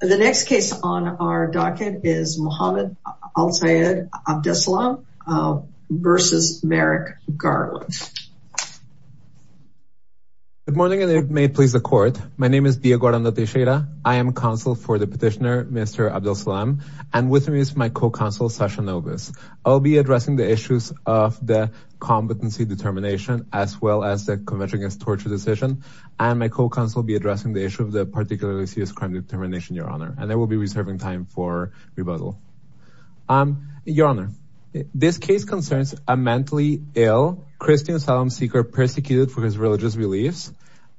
The next case on our docket is Muhammad Al-Sayed Abdelsalam versus Merrick Garland. Good morning and may it please the court. My name is Diego Arando Teixeira. I am counsel for the petitioner Mr. Abdelsalam and with me is my co-counsel Sasha Novus. I'll be addressing the issues of the competency determination as well as the convention against torture decision and my co-counsel will be addressing the issue of the particularly serious crime determination your honor and I will be reserving time for rebuttal. Your honor, this case concerns a mentally ill Christian asylum seeker persecuted for his religious beliefs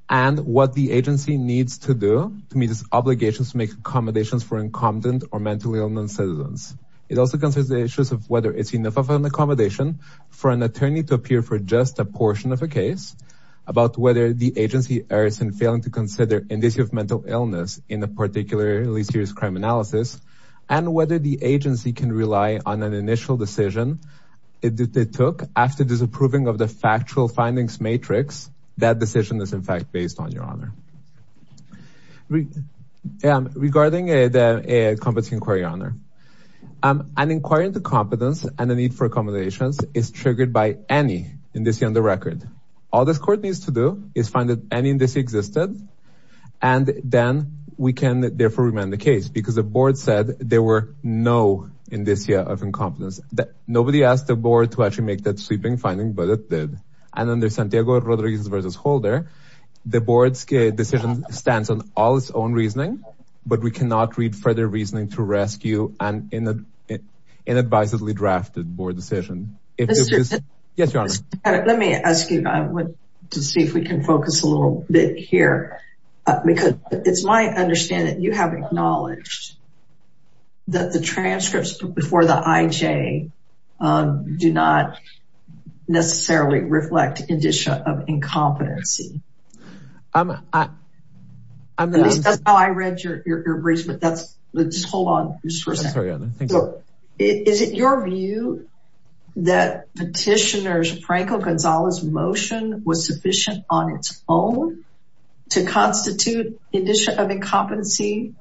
and what the agency needs to do to meet its obligations to make accommodations for incompetent or mentally ill non-citizens. It also concerns the issues of whether it's enough of an accommodation for an attorney to appear for just a portion of a case about whether the agency errors in failing to consider indicia of mental illness in a particularly serious crime analysis and whether the agency can rely on an initial decision it took after disapproving of the factual findings matrix. That decision is in fact based on your honor. Regarding the competency inquiry honor, an inquiry into competence and the need for court needs to do is find that any indicia existed and then we can therefore remand the case because the board said there were no indicia of incompetence that nobody asked the board to actually make that sweeping finding but it did and under Santiago Rodriguez versus Holder the board's decision stands on all its own reasoning but we cannot read further reasoning to rescue an inadvisably drafted board decision. Let me ask you to see if we can focus a little bit here because it's my understanding you have acknowledged that the transcripts before the IJ do not necessarily reflect indicia of incompetency. That's how I read your your briefs but that's just hold on just for a second. Is it your view that petitioner's Franco Gonzalez motion was sufficient on its own to constitute indicia of incompetency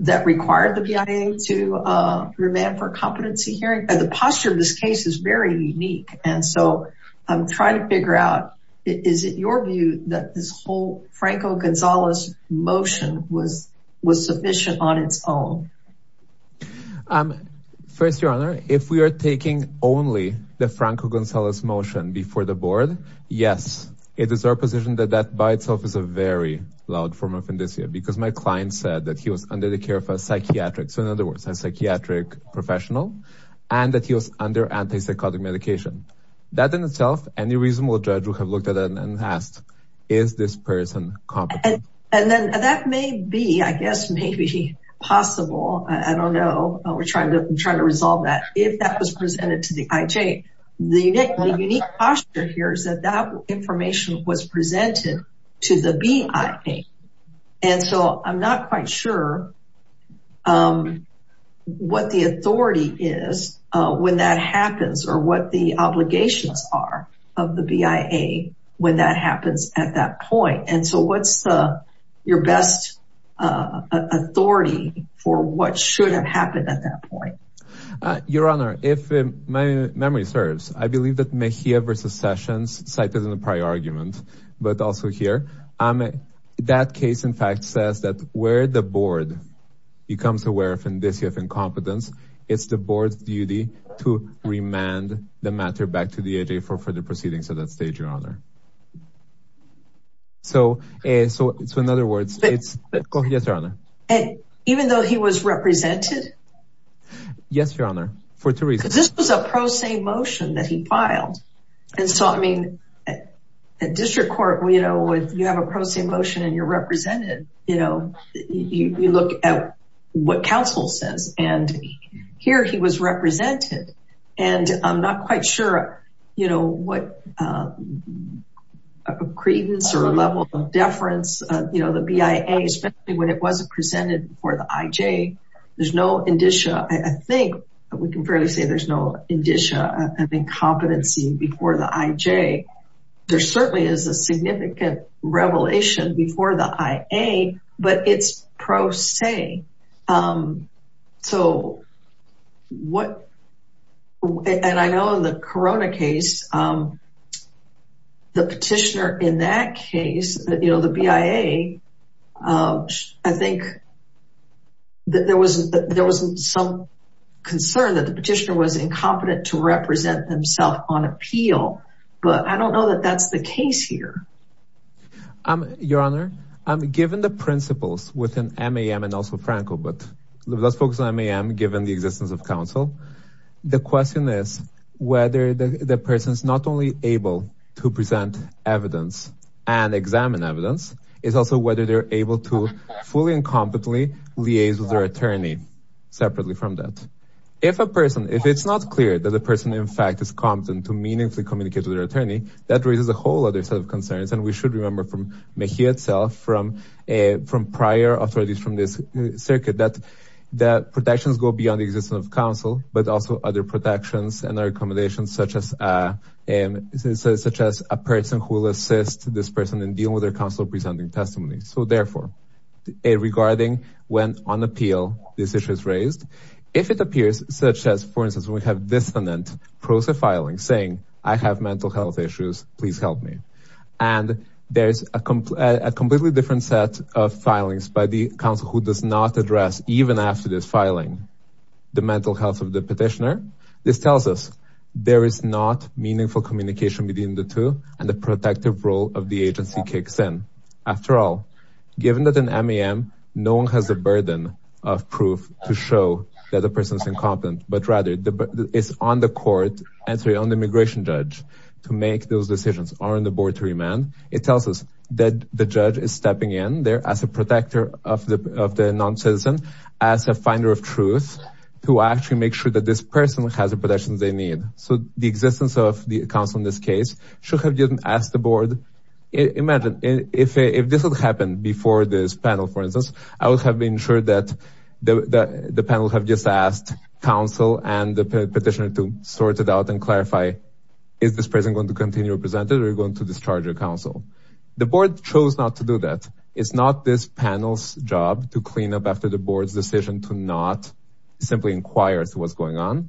that required the BIA to remand for competency hearing? The posture of this case is very unique and so I'm trying to figure out is it your view that this whole Franco Gonzalez motion was was sufficient on its own? First your honor if we are taking only the Franco Gonzalez motion before the board yes it is our position that that by itself is a very loud form of indicia because my client said that he was under the care of a psychiatric so in other words a psychiatric professional and that he was under anti-psychotic medication. That in itself any reasonable judge would have looked at it and asked is this person competent? And then that may be I guess maybe possible I don't know we're trying to try to resolve that if that was presented to the IJ. The unique posture here is that that information was presented to the BIA and so I'm not quite sure what the authority is uh when that happens or what the obligations are of the BIA when that happens at that point and so what's the your best uh authority for what should have happened at that point? Your honor if my memory serves I believe that Mejia versus Sessions cited in the prior argument but also here um that case in fact says that where the board becomes aware of indicia of competence it's the board's duty to remand the matter back to the IJ for further proceedings at that stage your honor. So in other words it's yes your honor and even though he was represented yes your honor for two reasons this was a pro se motion that he filed and so I mean at district court you know when you have a pro se motion and you're represented you know you look at what counsel says and here he was represented and I'm not quite sure you know what uh credence or level of deference uh you know the BIA especially when it wasn't presented before the IJ there's no indicia I think we can fairly say there's no indicia of incompetency before the IJ there certainly is a significant revelation before the IA but it's pro se um so what and I know the corona case um the petitioner in that case you know the BIA um I think that there was there wasn't some concern that the petitioner was incompetent to represent himself on appeal but I don't know that that's the case here um your honor um given the principles within MAM and also Franco but let's focus on MAM given the existence of counsel the question is whether the person is not only able to present evidence and examine evidence is also whether they're able to fully and competently liaise with their attorney separately from that if a person if it's not clear that the person in fact is competent to meaningfully communicate with their attorney that raises a whole other set of concerns and we should remember from Mejia itself from a from prior authorities from this circuit that that protections go beyond the existence of counsel but also other protections and other accommodations such as uh and such as a person who will assist this person in dealing with their counsel presenting testimony so therefore a regarding when on appeal this issue is raised if it appears such as for instance we have dissonant process filing saying I have mental health issues please help me and there's a completely different set of filings by the council who does not address even after this filing the mental health of the petitioner this tells us there is not meaningful communication between the two and the protective role of the agency kicks in after all given that an MAM no one has a burden of proof to show that the person is incompetent but rather the it's on the court entry on the immigration judge to make those decisions are on the board to remand it tells us that the judge is stepping in there as a protector of the of the non-citizen as a finder of truth to actually make sure that this person has the protections they need so the existence of the council in this case should have didn't ask the board imagine if if this would happen before this panel for instance I would have been sure that the the panel have just asked counsel and the petitioner to sort it out and clarify is this person going to continue represented or going to discharge your council the board chose not to do that it's not this panel's job to clean up after the board's decision to not simply inquire as to what's going on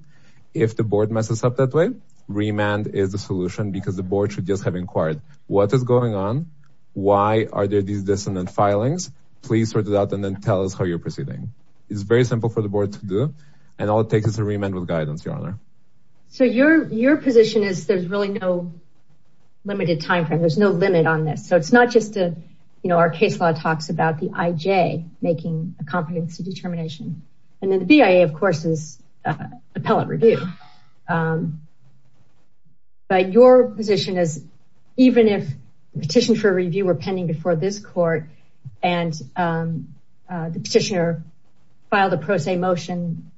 if the board messes up that way remand is the solution because the board should just have inquired what is going on why are there these dissonant filings please sort it out and then tell us how you're proceeding it's very simple for the board to do and all it takes is a remand with guidance your honor so your your position is there's really no limited time frame there's no limit on this so it's not just a you know our case law talks about the ij making a competency determination and then the bia of course is appellate review but your position is even if petition for review were pending before this court and the petitioner filed a pro se motion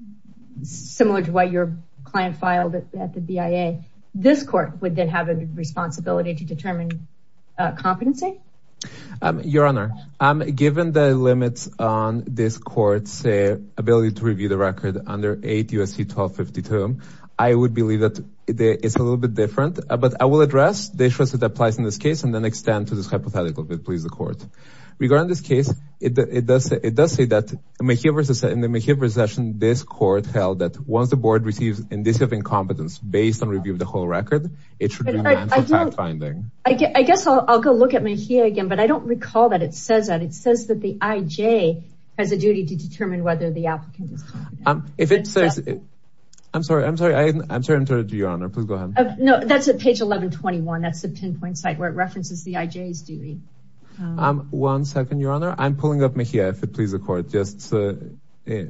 similar to what your client filed at the bia this court would then have a responsibility to determine competency your honor given the limits on this court's ability to review the record under 8 usc 1252 i would believe that it's a little bit different but i will address the issues that applies in this case and then extend to this hypothetical bit please the court regarding this case it does it does say that mcgill versus in the mcgill procession this court held that once the board receives indicative incompetence based on review of the whole record it should be fact-finding i guess i'll go look at me here again but i don't recall that it says that it says that the ij has a duty to determine whether the applicant is um if it says i'm sorry i'm sorry i'm sorry i'm sorry to your honor please go ahead no that's at page 11 21 that's the pinpoint site where it references the ij's duty um one second your honor i'm pulling up me here if it please the court just uh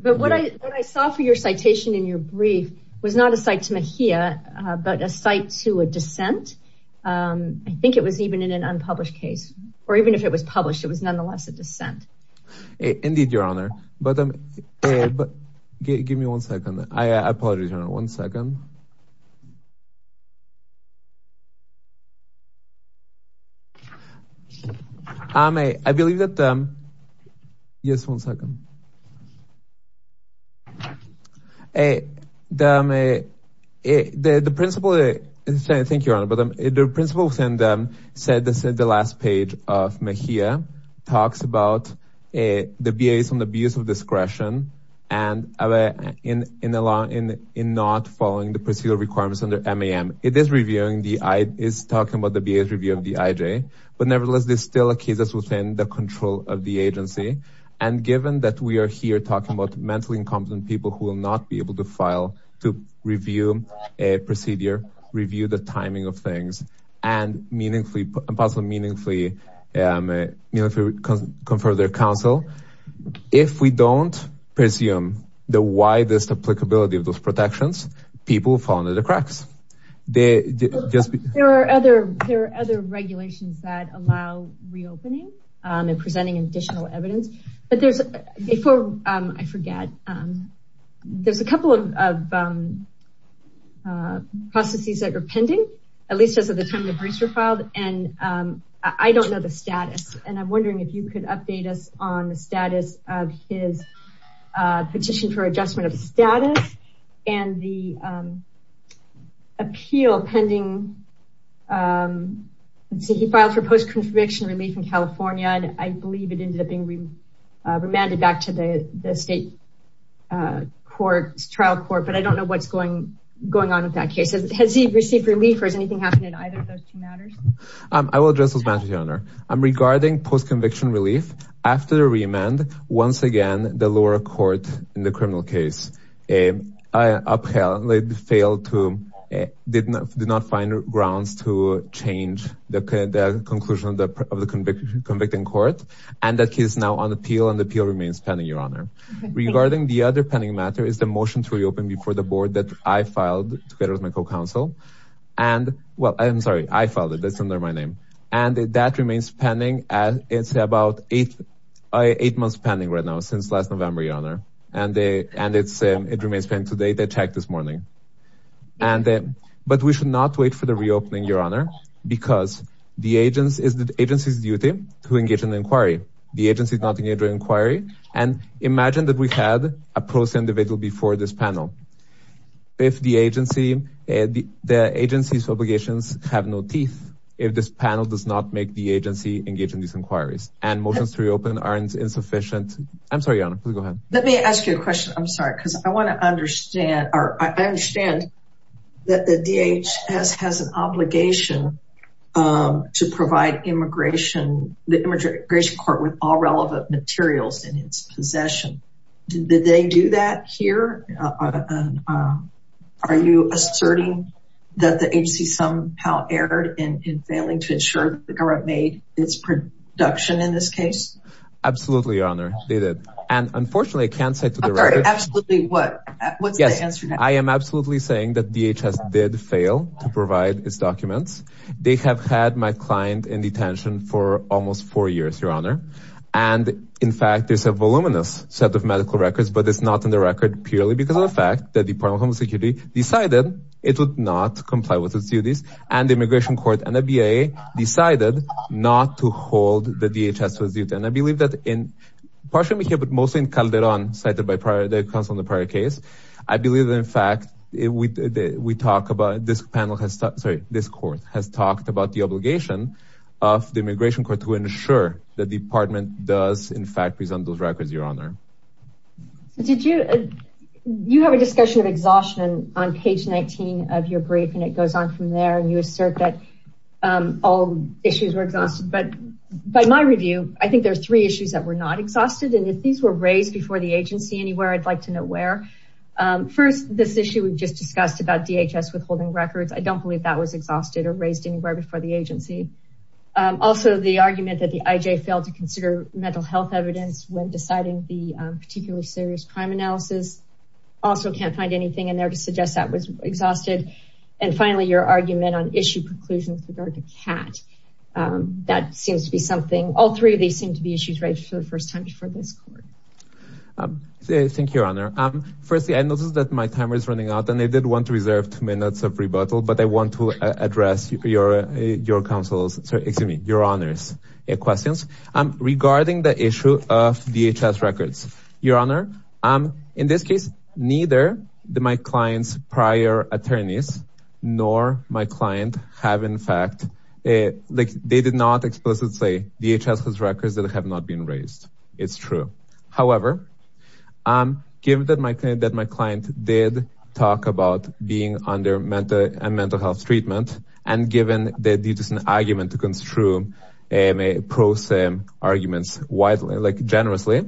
but what i what i saw for your citation in your brief was not a site to me here but a site to a dissent um i think it was even in an unpublished case or even if it was published it was nonetheless a dissent indeed your honor but um but give me one second i apologize your honor hey the um a the the principal is saying thank you your honor but the principal within them said this is the last page of me here talks about a the ba's on the abuse of discretion and other in in the law in in not following the procedural requirements under mam it is reviewing the i is talking about the ba's review of the ij but nevertheless there's still a case that's of the agency and given that we are here talking about mentally incompetent people who will not be able to file to review a procedure review the timing of things and meaningfully possibly meaningfully um you know if we confer their counsel if we don't presume the widest applicability of those protections people fall into the cracks they just there are other there are other regulations that allow reopening um and presenting additional evidence but there's a for um i forget um there's a couple of um uh processes that are pending at least as of the time the briefs were filed and um i don't know the status and i'm wondering if you could update us on the status of his uh petition for adjustment of status and the um appeal pending um let's see he filed for post-conviction relief in california and i believe it ended up being remanded back to the the state uh court trial court but i don't know what's going going on with that case has he received relief or is anything happening either of those two matters um i will address those matters your honor i'm a i upheld failed to did not do not find grounds to change the conclusion of the of the convicted convicting court and that case now on appeal and appeal remains pending your honor regarding the other pending matter is the motion to reopen before the board that i filed together with my co-counsel and well i'm sorry i filed it that's under my name and that remains pending as it's about eight eight months pending right now since last november your honor and they and it's it remains pending today they checked this morning and then but we should not wait for the reopening your honor because the agents is the agency's duty to engage in the inquiry the agency is not engaged in inquiry and imagine that we had a person individual before this panel if the agency the agency's obligations have no teeth if this panel does not make the agency engage in these inquiries and motions to reopen aren't insufficient i'm sorry your honor go ahead let me ask you a question i'm sorry because i want to understand or i understand that the dhs has an obligation um to provide immigration the immigration court with all relevant materials in its possession did they do that here uh are you asserting that the agency somehow erred in failing to ensure that the government made its production in this case absolutely your honor they did and unfortunately i can't say to the record absolutely what what's the answer i am absolutely saying that dhs did fail to provide its documents they have had my client in detention for almost four years your honor and in fact there's a voluminous set of medical records but it's not in the record purely because of the fact that the department of home security decided it would not comply with its duties and the immigration court and the ba decided not to hold the dhs was due and i believe that in partially here but mostly in calderon cited by prior the council in the prior case i believe in fact we we talk about this panel has sorry this court has talked about the obligation of the immigration court to ensure the department does in fact present those records your honor did you you have a discussion of exhaustion on page 19 of your brief and it um all issues were exhausted but by my review i think there's three issues that were not exhausted and if these were raised before the agency anywhere i'd like to know where um first this issue we've just discussed about dhs withholding records i don't believe that was exhausted or raised anywhere before the agency um also the argument that the ij failed to consider mental health evidence when deciding the particular serious crime analysis also can't find anything in there to suggest that was exhausted and finally your argument on issue conclusions regard to cat um that seems to be something all three of these seem to be issues right for the first time before this court um thank you your honor um firstly i noticed that my timer is running out and i did want to reserve two minutes of rebuttal but i want to address your your counsels excuse me your honors questions um regarding the issue of dhs records your honor um in this case neither the my client's prior attorneys nor my client have in fact like they did not explicitly dhs has records that have not been raised it's true however um given that my client that my client did talk about being under mental and mental health treatment and given that it is an argument to construe a prosim arguments widely like generously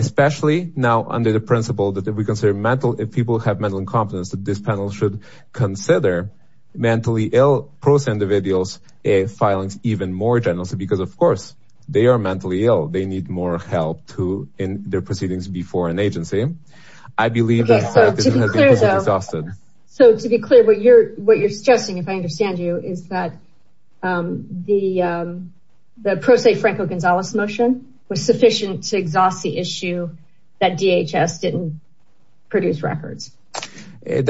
especially now under the principle that we consider mental if people have mental incompetence that this panel should consider mentally ill pros individuals a filings even more generously because of course they are mentally ill they need more help to in their proceedings before an agency i believe so to be clear what you're what you're suggesting if i issue that dhs didn't produce records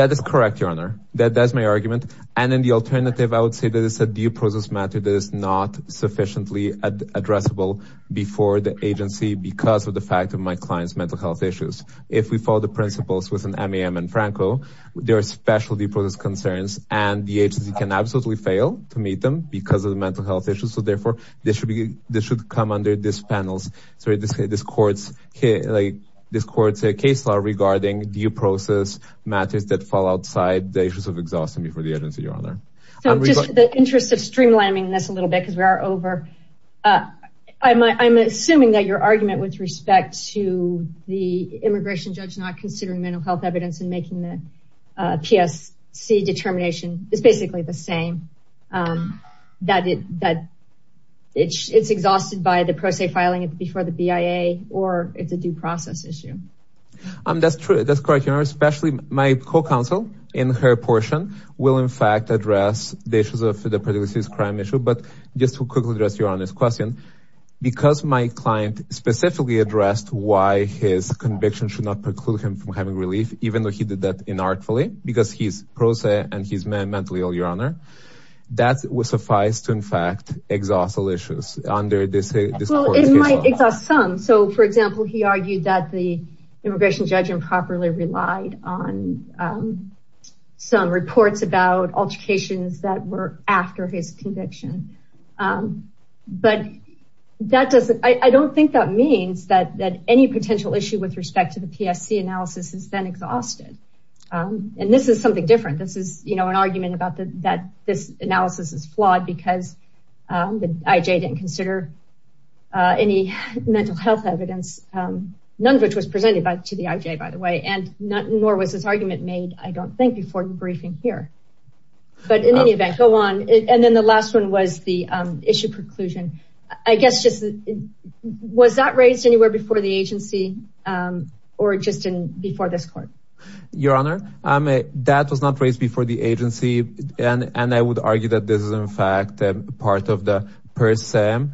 that is correct your honor that that's my argument and in the alternative i would say that it's a due process matter that is not sufficiently addressable before the agency because of the fact of my client's mental health issues if we follow the principles with an mam and franco there are specialty process concerns and the agency can absolutely fail to meet them because of the mental health issues therefore this should be this should come under this panels sorry this this court's here like this court's a case law regarding due process matters that fall outside the issues of exhausting before the agency your honor so just the interest of streamlining this a little bit because we are over uh i'm i'm assuming that your argument with respect to the immigration judge not considering mental health evidence and making the psc determination is basically the same um that it that it's it's exhausted by the pro se filing it before the bia or it's a due process issue um that's true that's correct your honor especially my co-counsel in her portion will in fact address the issues of the previous crime issue but just to quickly address your honest question because my client specifically addressed why his conviction should not preclude him from having relief even though he did that inartfully because he's pro se and he's mentally your honor that would suffice to in fact exhaust all issues under this well it might exhaust some so for example he argued that the immigration judge improperly relied on um some reports about altercations that were after his conviction um but that doesn't i don't think that means that that any potential issue with respect to the psc analysis is then exhausted um and this is something different this is you know an argument about the that this analysis is flawed because um the ij didn't consider uh any mental health evidence um none of which was presented by to the ij by the way and not nor was this argument made i don't think before the briefing here but in any event go on and then the last one was the um issue preclusion i guess just was that the agency um or just in before this court your honor um that was not raised before the agency and and i would argue that this is in fact part of the per se um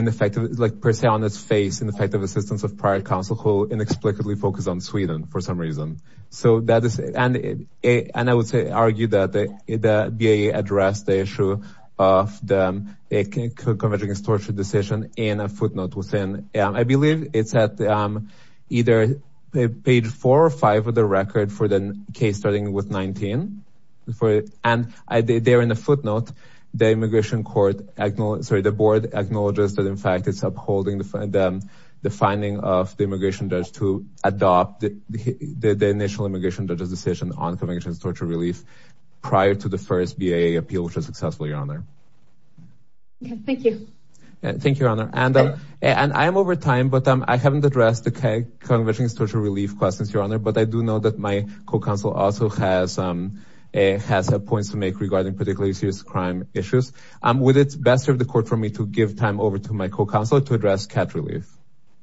ineffective like per se on its face in the fact of assistance of prior counsel who inexplicably focused on sweden for some reason so that is and it and i would say argue that the the ba addressed the issue of the convergence torture decision in a footnote within i believe it's at um either page four or five of the record for the case starting with 19 before it and i there in the footnote the immigration court acknowledge sorry the board acknowledges that in fact it's upholding them the finding of the immigration judge to adopt the the initial immigration judge's decision on conviction torture relief prior to the first ba appeal which was successful your honor okay thank you thank you your honor and and i am over time but um i haven't addressed the k conviction social relief questions your honor but i do know that my co-counsel also has um has points to make regarding particularly serious crime issues um with its best of the court for me to give time over to my co-counsel to address cat relief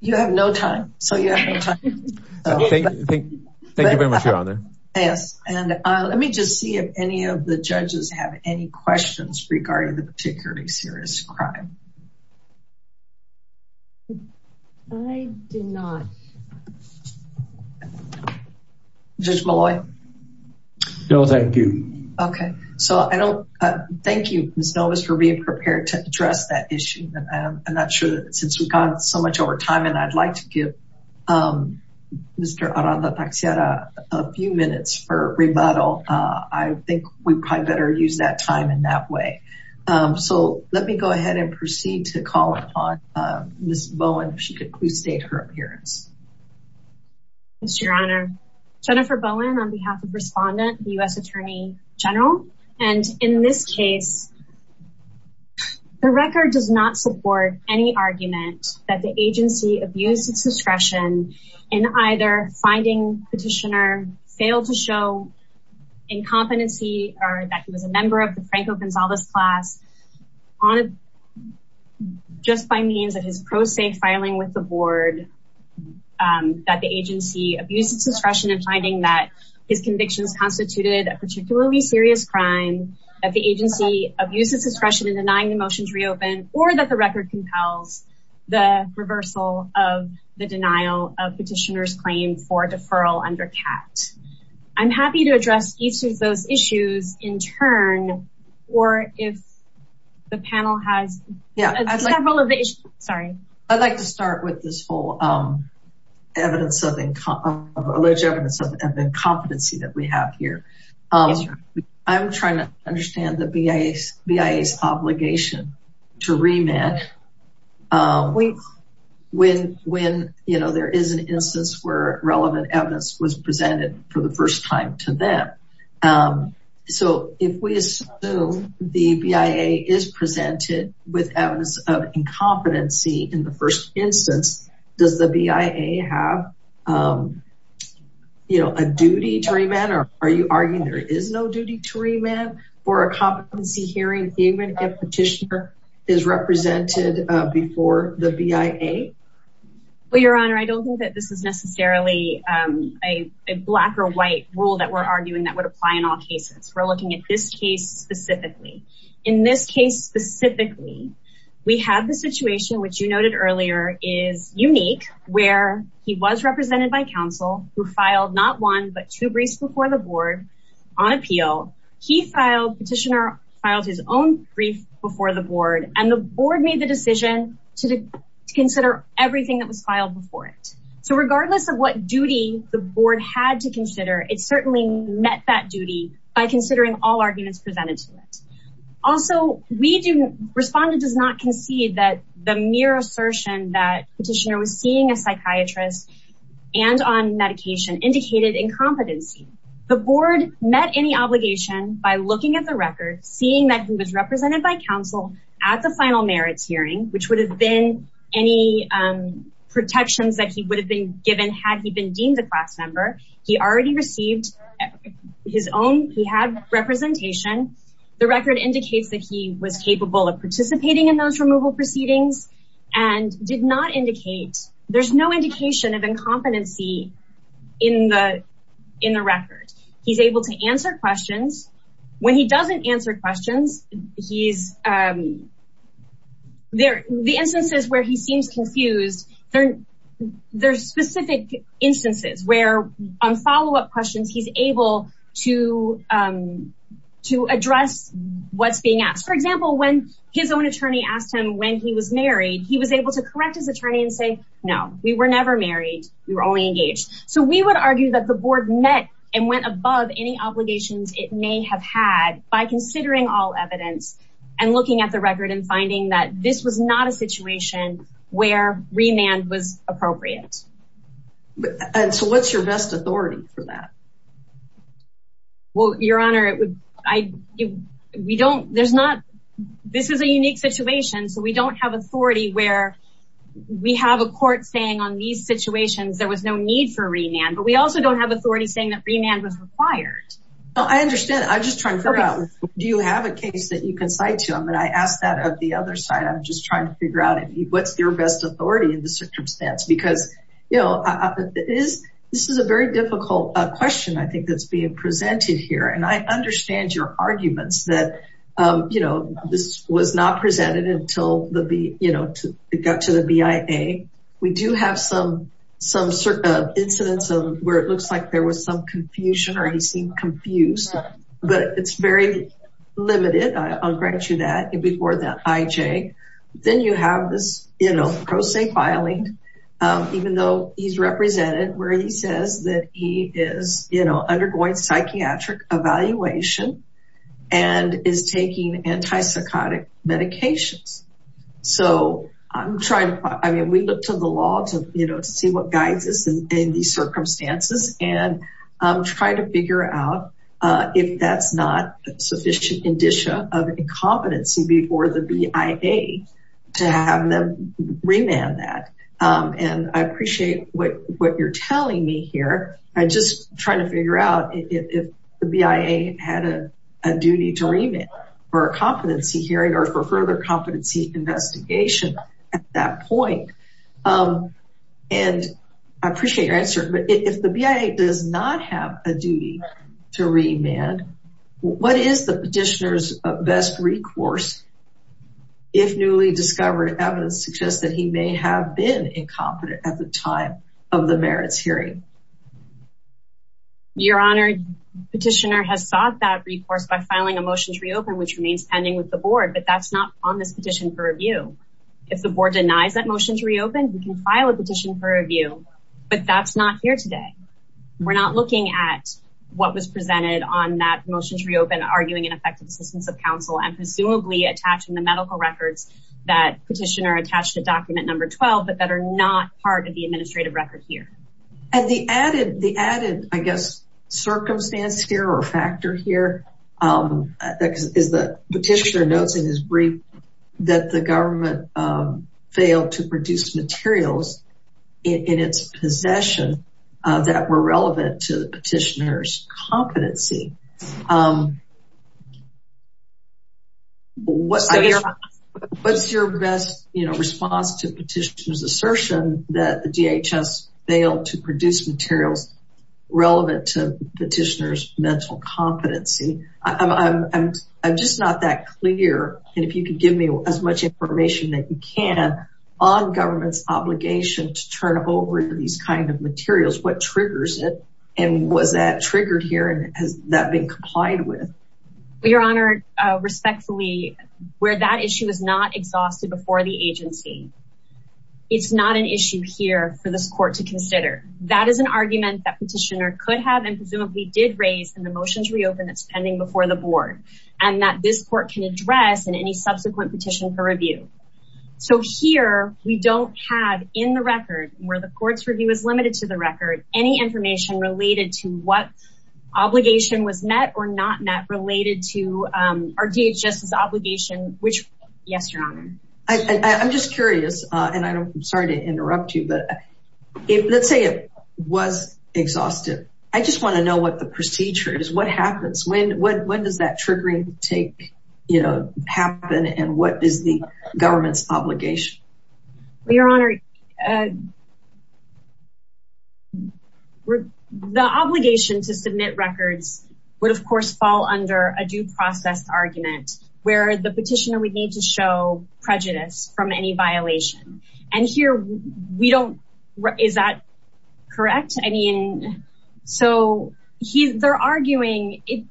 you have no time so you have no time thank you thank you very much your honor yes and uh let me just see if any of the judges have any questions regarding the particularly serious crime i did not judge malloy no thank you okay so i don't uh thank you miss novus for being prepared to address that issue and i'm not sure that since we've gone so much over time and i'd like to give um mr aranda taxiera a few minutes for rebuttal uh i think we probably better use that time in that way um so let me go ahead and proceed to call upon uh miss bowen if she could please state her appearance yes your honor jennifer bowen on behalf of respondent the u.s attorney general and in this case the record does not support any argument that the agency abused its discretion in either finding petitioner failed to show incompetency or that he was a member of the franco gonzalez class on it just by means of his pro se filing with the board um that the agency abused its discretion in finding that his convictions constituted a particularly serious crime that the agency abused its discretion in denying the motion to reopen or that the record compels the reversal of the denial of petitioner's claim for deferral under cat i'm happy to address each of those issues in turn or if the panel has yeah several of the issues sorry i'd like to start with this whole um evidence of income of alleged evidence of incompetency that we have here um i'm trying to understand the bia's obligation to remand um when when you know there is an instance where relevant evidence was presented for the first time to them um so if we assume the bia is presented with evidence of incompetency in the first instance does the bia have um you know a duty to remand or are you arguing there is no duty to remand for a competency hearing even if petitioner is represented uh before the bia well your honor i don't think that this is necessarily um a black or white rule that we're arguing that would apply in all cases we're looking at this case specifically in this case specifically we have the situation which you noted earlier is unique where he was represented by counsel who filed not one but two briefs before the board on appeal he filed petitioner filed his own brief before the board and the board made the decision to consider everything that was filed before it so regardless of what duty the board had to consider it certainly met that duty by considering all arguments presented to it also we do respondent does not concede that the mere assertion that petitioner was seeing a psychiatrist and on medication indicated incompetency the board met any obligation by looking at the record seeing that he was represented by counsel at the final merits hearing which would have been any um protections that he would have been given had been deemed a class member he already received his own he had representation the record indicates that he was capable of participating in those removal proceedings and did not indicate there's no indication of incompetency in the in the record he's able to answer questions when he doesn't questions he's um there the instances where he seems confused there there's specific instances where on follow-up questions he's able to um to address what's being asked for example when his own attorney asked him when he was married he was able to correct his attorney and say no we were never married we were only engaged so we would argue that the board met and went above any obligations it may have had by considering all evidence and looking at the record and finding that this was not a situation where remand was appropriate and so what's your best authority for that well your honor it would i we don't there's not this is a unique situation so we don't have authority where we have a court saying on these situations there was no need for remand but we also don't have authority saying that remand was required i understand i'm just trying to figure out do you have a case that you can cite to him and i asked that of the other side i'm just trying to figure out what's your best authority in the circumstance because you know is this is a very difficult question i think that's being presented here and i understand your arguments that um you know this was not presented until the b you know to get to the bia we do have some some certain incidents of where it looks like there was some confusion or he seemed confused but it's very limited i'll grant you that before that ij then you have this you know pro se filing even though he's represented where he says that he is you know undergoing psychiatric evaluation and is taking anti-psychotic medications so i'm trying i mean we look to the law to you know to in these circumstances and um try to figure out uh if that's not a sufficient indicia of incompetency before the bia to have them remand that um and i appreciate what what you're telling me here i just trying to figure out if the bia had a a duty to remit for a competency hearing or for further competency investigation at that point um and i appreciate your answer but if the bia does not have a duty to remand what is the petitioner's best recourse if newly discovered evidence suggests that he may have been incompetent at the time of the merits hearing your honor petitioner has sought that recourse by filing a motion to reopen which remains pending with the board but that's not on this petition for review if the board denies that motion to reopen we can file a petition for review but that's not here today we're not looking at what was presented on that motion to reopen arguing an effective assistance of council and presumably attaching the medical records that petitioner attached to document number 12 but that are not part of the administrative record here and the added the added i guess circumstance here or is brief that the government failed to produce materials in its possession that were relevant to the petitioner's competency um what's your best you know response to petitioner's assertion that the dhs failed to produce materials relevant to petitioner's mental competency i'm i'm i'm just not that clear and if you could give me as much information that you can on government's obligation to turn over these kind of materials what triggers it and was that triggered here and has that been complied with your honor respectfully where that issue is not exhausted before the agency it's not an issue here for petitioner could have and presumably did raise and the motions reopen it's pending before the board and that this court can address in any subsequent petition for review so here we don't have in the record where the court's review is limited to the record any information related to what obligation was met or not met related to um our dhs obligation which yes your honor i i'm just curious uh and i'm sorry to interrupt you but if let's say it was exhausted i just want to know what the procedure is what happens when what when does that triggering take you know happen and what is the government's obligation your honor uh the obligation to submit records would of course fall under a due process argument where the and here we don't is that correct i mean so he's they're arguing it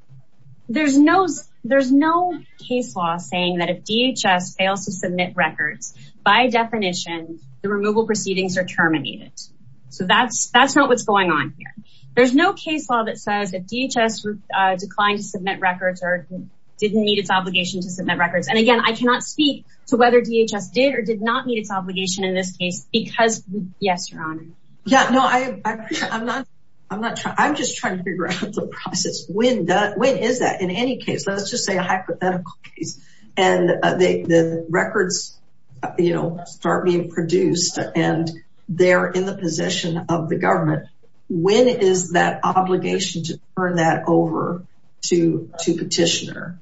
there's no there's no case law saying that if dhs fails to submit records by definition the removal proceedings are terminated so that's that's not what's going on here there's no case law that says that dhs declined to submit records or didn't meet its obligation to submit records and again i cannot speak to whether dhs did or did not meet its obligation in this case because yes your honor yeah no i i'm not i'm not trying i'm just trying to figure out the process when does when is that in any case let's just say a hypothetical case and they the records you know start being produced and they're in the possession of the government when is that obligation to turn that over to to petitioner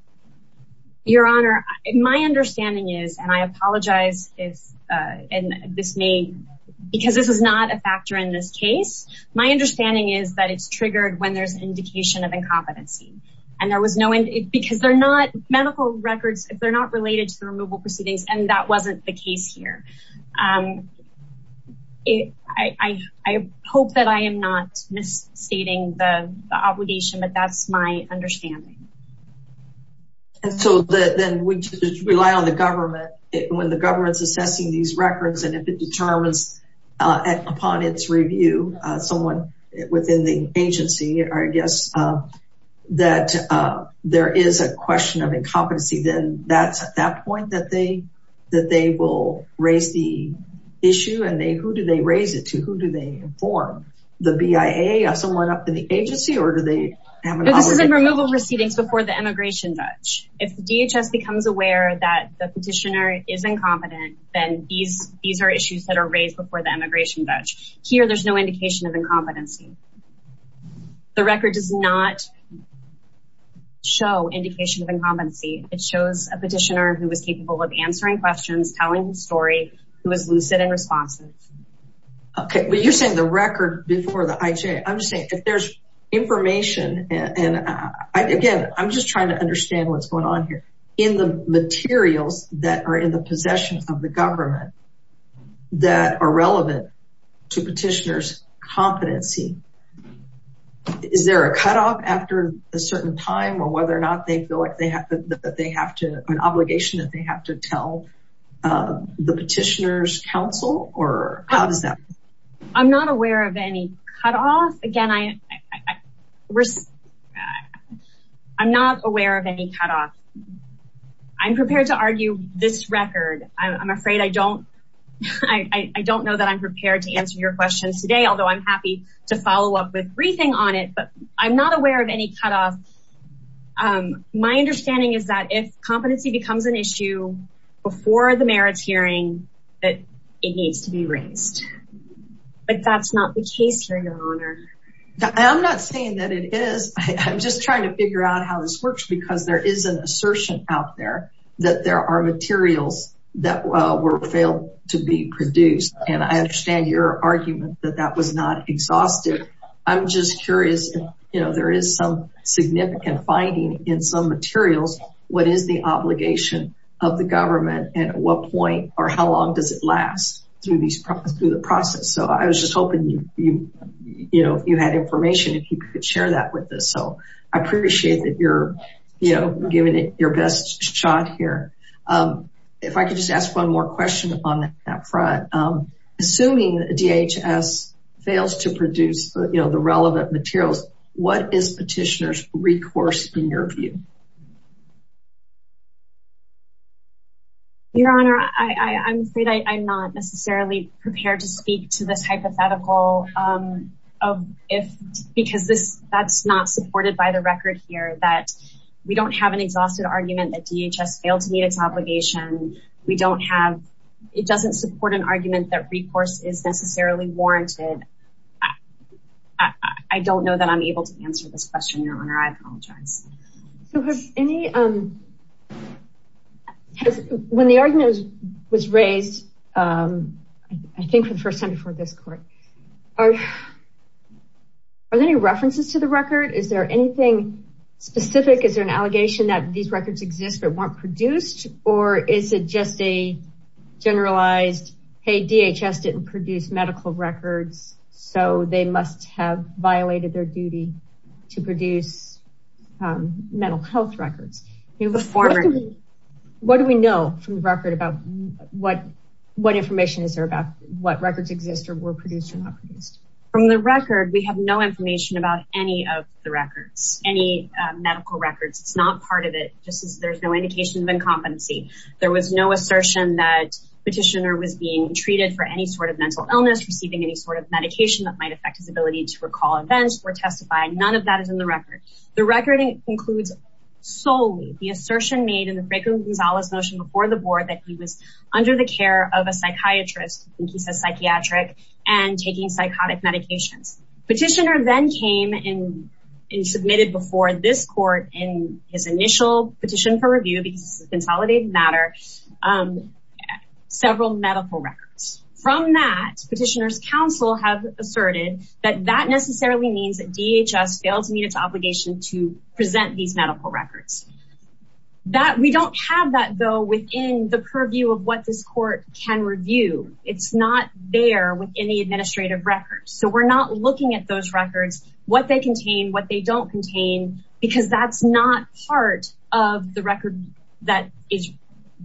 your honor my understanding is and i apologize if uh and this may because this is not a factor in this case my understanding is that it's triggered when there's indication of incompetency and there was no end because they're not medical records they're not related to the removal proceedings and that wasn't the case here um it i i hope that i am not misstating the obligation but that's my understanding and so the then we just rely on the government when the government's assessing these records and if it determines upon its review uh someone within the agency or i guess uh that uh there is a question of incompetency then that's at that point that they that they will raise the issue and they who do raise it to who do they inform the bia someone up to the agency or do they have this is a removal proceedings before the immigration judge if the dhs becomes aware that the petitioner is incompetent then these these are issues that are raised before the immigration judge here there's no indication of incompetency the record does not show indication of incompetency it shows a petitioner who was capable of answering questions telling the story who was lucid and responsive okay well you're saying the record before the ij i'm just saying if there's information and i again i'm just trying to understand what's going on here in the materials that are in the possessions of the government that are relevant to petitioners competency is there a cutoff after a certain time or whether or not they feel like they have that they have to an obligation that they have to tell uh the petitioners council or how does that i'm not aware of any cutoff again i i risk i'm not aware of any cutoff i'm prepared to argue this record i'm afraid i don't i i don't know that i'm prepared to answer your questions today although i'm happy to follow up with briefing on it but i'm not aware of any cutoff um my understanding is that if competency becomes an issue before the merits hearing that it needs to be raised but that's not the case here your honor i'm not saying that it is i'm just trying to figure out how this works because there is an assertion out there that there are materials that were failed to be produced and i understand your argument that that was not exhaustive i'm just curious you know there is some significant finding in some materials what is the obligation of the government and at what point or how long does it last through these through the process so i was just hoping you you know you had information if you could share that with us so i appreciate that you're you know giving it your best shot here if i could just ask one more question on that front um assuming dhs fails to produce you know the relevant materials what is petitioners recourse in your view your honor i i'm afraid i'm not necessarily prepared to speak to this hypothetical um of if because this that's not supported by the record here that we don't have an exhausted argument that dhs failed to meet its obligation we don't have it doesn't support an argument that recourse is necessarily warranted i don't know that i'm able to answer this question your honor i apologize so has any um has when the argument was raised um i think for the first time before this court are are there any references to the record is there anything specific is there an medical records so they must have violated their duty to produce um mental health records what do we know from the record about what what information is there about what records exist or were produced or not produced from the record we have no information about any of the records any medical records it's not part of it just as there's no indication of incompetency there was no assertion that petitioner was being treated for any sort of mental illness receiving any sort of medication that might affect his ability to recall events or testify none of that is in the record the record includes solely the assertion made in the franklin gonzalez motion before the board that he was under the care of a psychiatrist and he says psychiatric and taking psychotic medications petitioner then came in and submitted before this court in his initial petition for review because this is consolidated matter um several medical records from that petitioner's counsel have asserted that that necessarily means that dhs failed to meet its obligation to present these medical records that we don't have that though within the purview of what this court can review it's not there within the administrative records so we're not looking at those records what they contain what they don't contain because that's not part of the record that is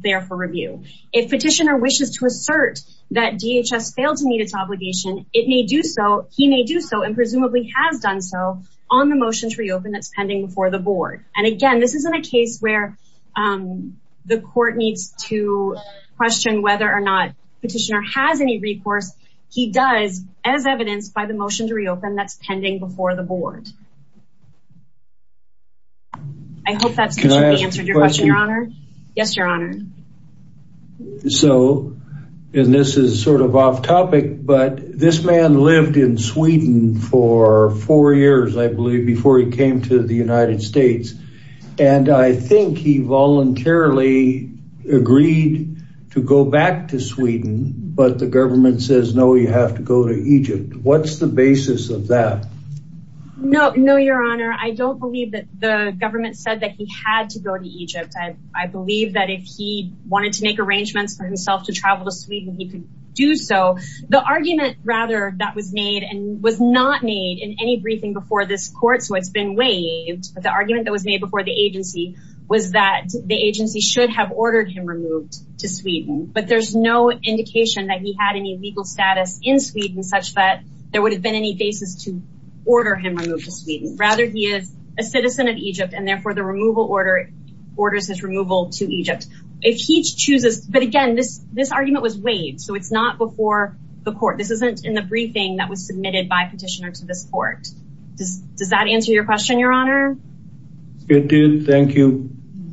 there for review if petitioner wishes to assert that dhs failed to meet its obligation it may do so he may do so and presumably has done so on the motion to reopen that's pending before the board and again this isn't a case where um the court needs to question whether or not petitioner has any recourse he does as evidenced by the motion to reopen that's pending before the board i hope that's answered your question your honor yes your honor so and this is sort of off topic but this man lived in sweden for four years i believe before he came to the united states and i think he voluntarily agreed to go back to sweden but the government says no you have to go to egypt what's the basis of that no no your honor i don't believe that the government said that he had to go to egypt i i believe that if he wanted to make arrangements for himself to travel to sweden he could do so the argument rather that was made and was not made in any briefing before this court so it's been waived but the argument that was made before the agency was that the agency should have ordered him removed to sweden but there's no indication that he had any legal status in sweden such that there would have been any basis to order him removed to sweden rather he is a citizen of egypt and therefore the removal order orders his removal to egypt if he chooses but again this this argument was waived so it's not before the court this isn't in the briefing that was submitted by petitioner to this court does does that answer your question your honor it did thank you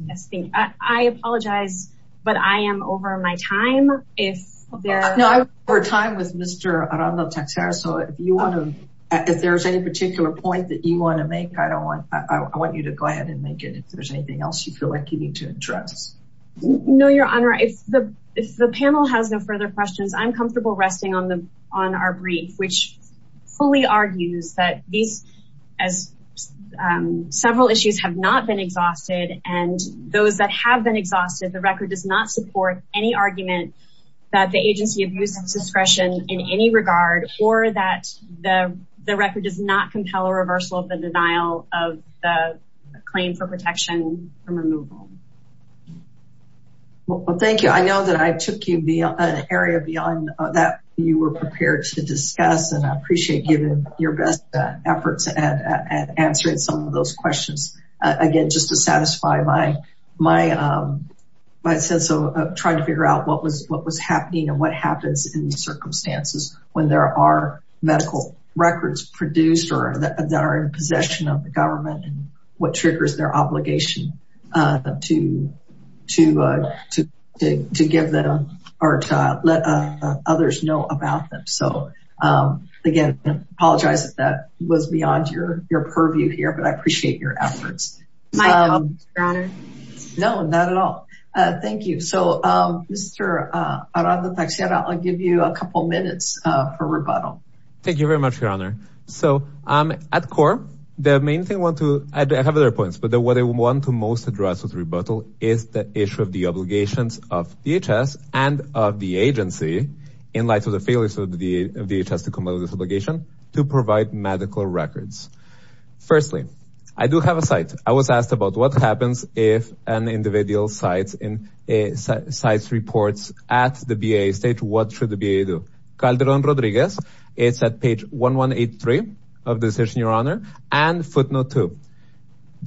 yes thank you i apologize but i am over my time if there's no i'm over time with mr so if you want to if there's any particular point that you want to make i don't want i want you to go ahead and make it if there's anything else you feel like you need to address no your honor if the if the panel has no further questions i'm comfortable resting on the on our brief which fully argues that these as several issues have not been exhausted and those that have been exhausted the record does not support any argument that the agency abuses discretion in any regard or that the the record does not compel a reversal of the denial of the claim for protection from removal well thank you i know that i took you via an area beyond that you were prepared to discuss and i appreciate giving your best efforts at answering some of those questions again just to satisfy my my um my sense of trying to figure out what was what was happening and what happens in these circumstances when there are medical records produced or that are in possession of the government and what triggers their obligation uh to to uh to to give them or to let others know about them so um again apologize that that was beyond your your purview here but i appreciate your efforts my honor no not at all uh thank you so um mr uh i'll give you a couple minutes uh for rebuttal thank you very much your honor so um at core the main thing i want to i have other points but what i want to most address with rebuttal is the issue of the obligations of dhs and of the agency in light of the failures of the dhs to come out of this obligation to provide medical records firstly i do have a site i was asked about what happens if an individual sites in a sites reports at the ba stage what should the ba do calderon rodriguez it's at page 1183 of the decision your honor and footnote 2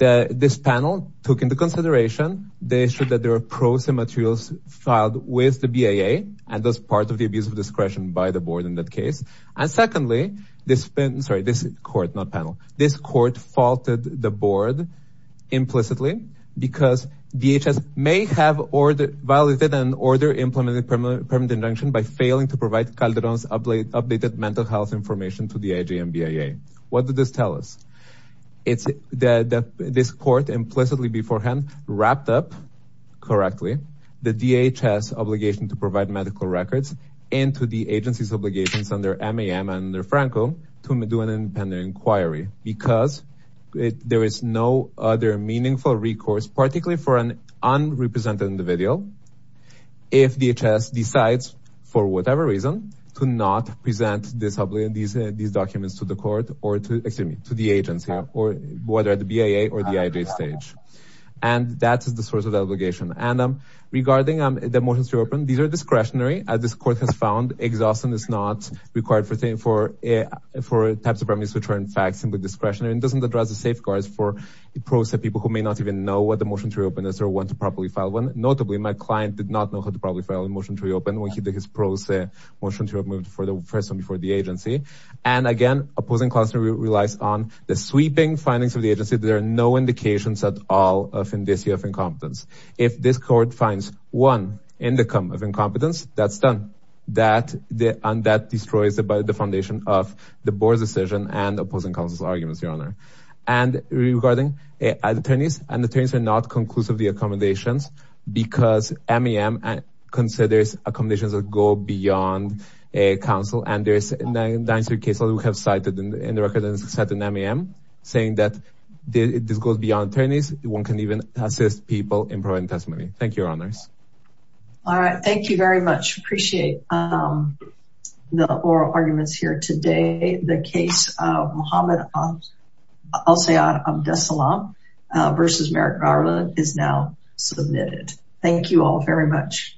the this panel took into consideration the issue that there are pros and materials filed with the baa and thus part of the abuse of discretion by the board in that case and secondly this sorry this court not panel this court faulted the board implicitly because dhs may have ordered violated an order implemented permanent injunction by failing to provide calderon's update updated mental health information to the ajmba what did this tell us it's the the this court implicitly beforehand wrapped up correctly the dhs obligation to provide medical records into the agency's obligations under mam and under franco to do an independent inquiry because there is no other meaningful recourse particularly for an unrepresented individual if dhs decides for whatever reason to not present this obligation these these documents to the court or to excuse me to the agency or whether the baa or the ij stage and that is the source of obligation and um regarding um the motions to open these are discretionary as this court has found exhaustion is not required for thing for for types of remedies which are in fact simply discretionary and doesn't address the safeguards for the pros that people who may not even know what the motion to reopen is or want to properly file one notably my client did not know how to probably file a motion to reopen when he did his pros say motion to have moved for the first one before the agency and again opposing constantly relies on the sweeping findings of the agency there are no indications at all of indicia of incompetence if this court finds one indicum of incompetence that's done that the and that destroys the by the foundation of the board's decision and opposing counsel's arguments your regarding attorneys and attorneys are not conclusive the accommodations because mem and considers accommodations that go beyond a council and there's 93 cases we have cited in the record and set an mem saying that this goes beyond attorneys one can even assist people in providing testimony thank your honors all right thank you very much appreciate um the oral arguments here the case of muhammad i'll say i'm desolam versus merrick garland is now submitted thank you all very much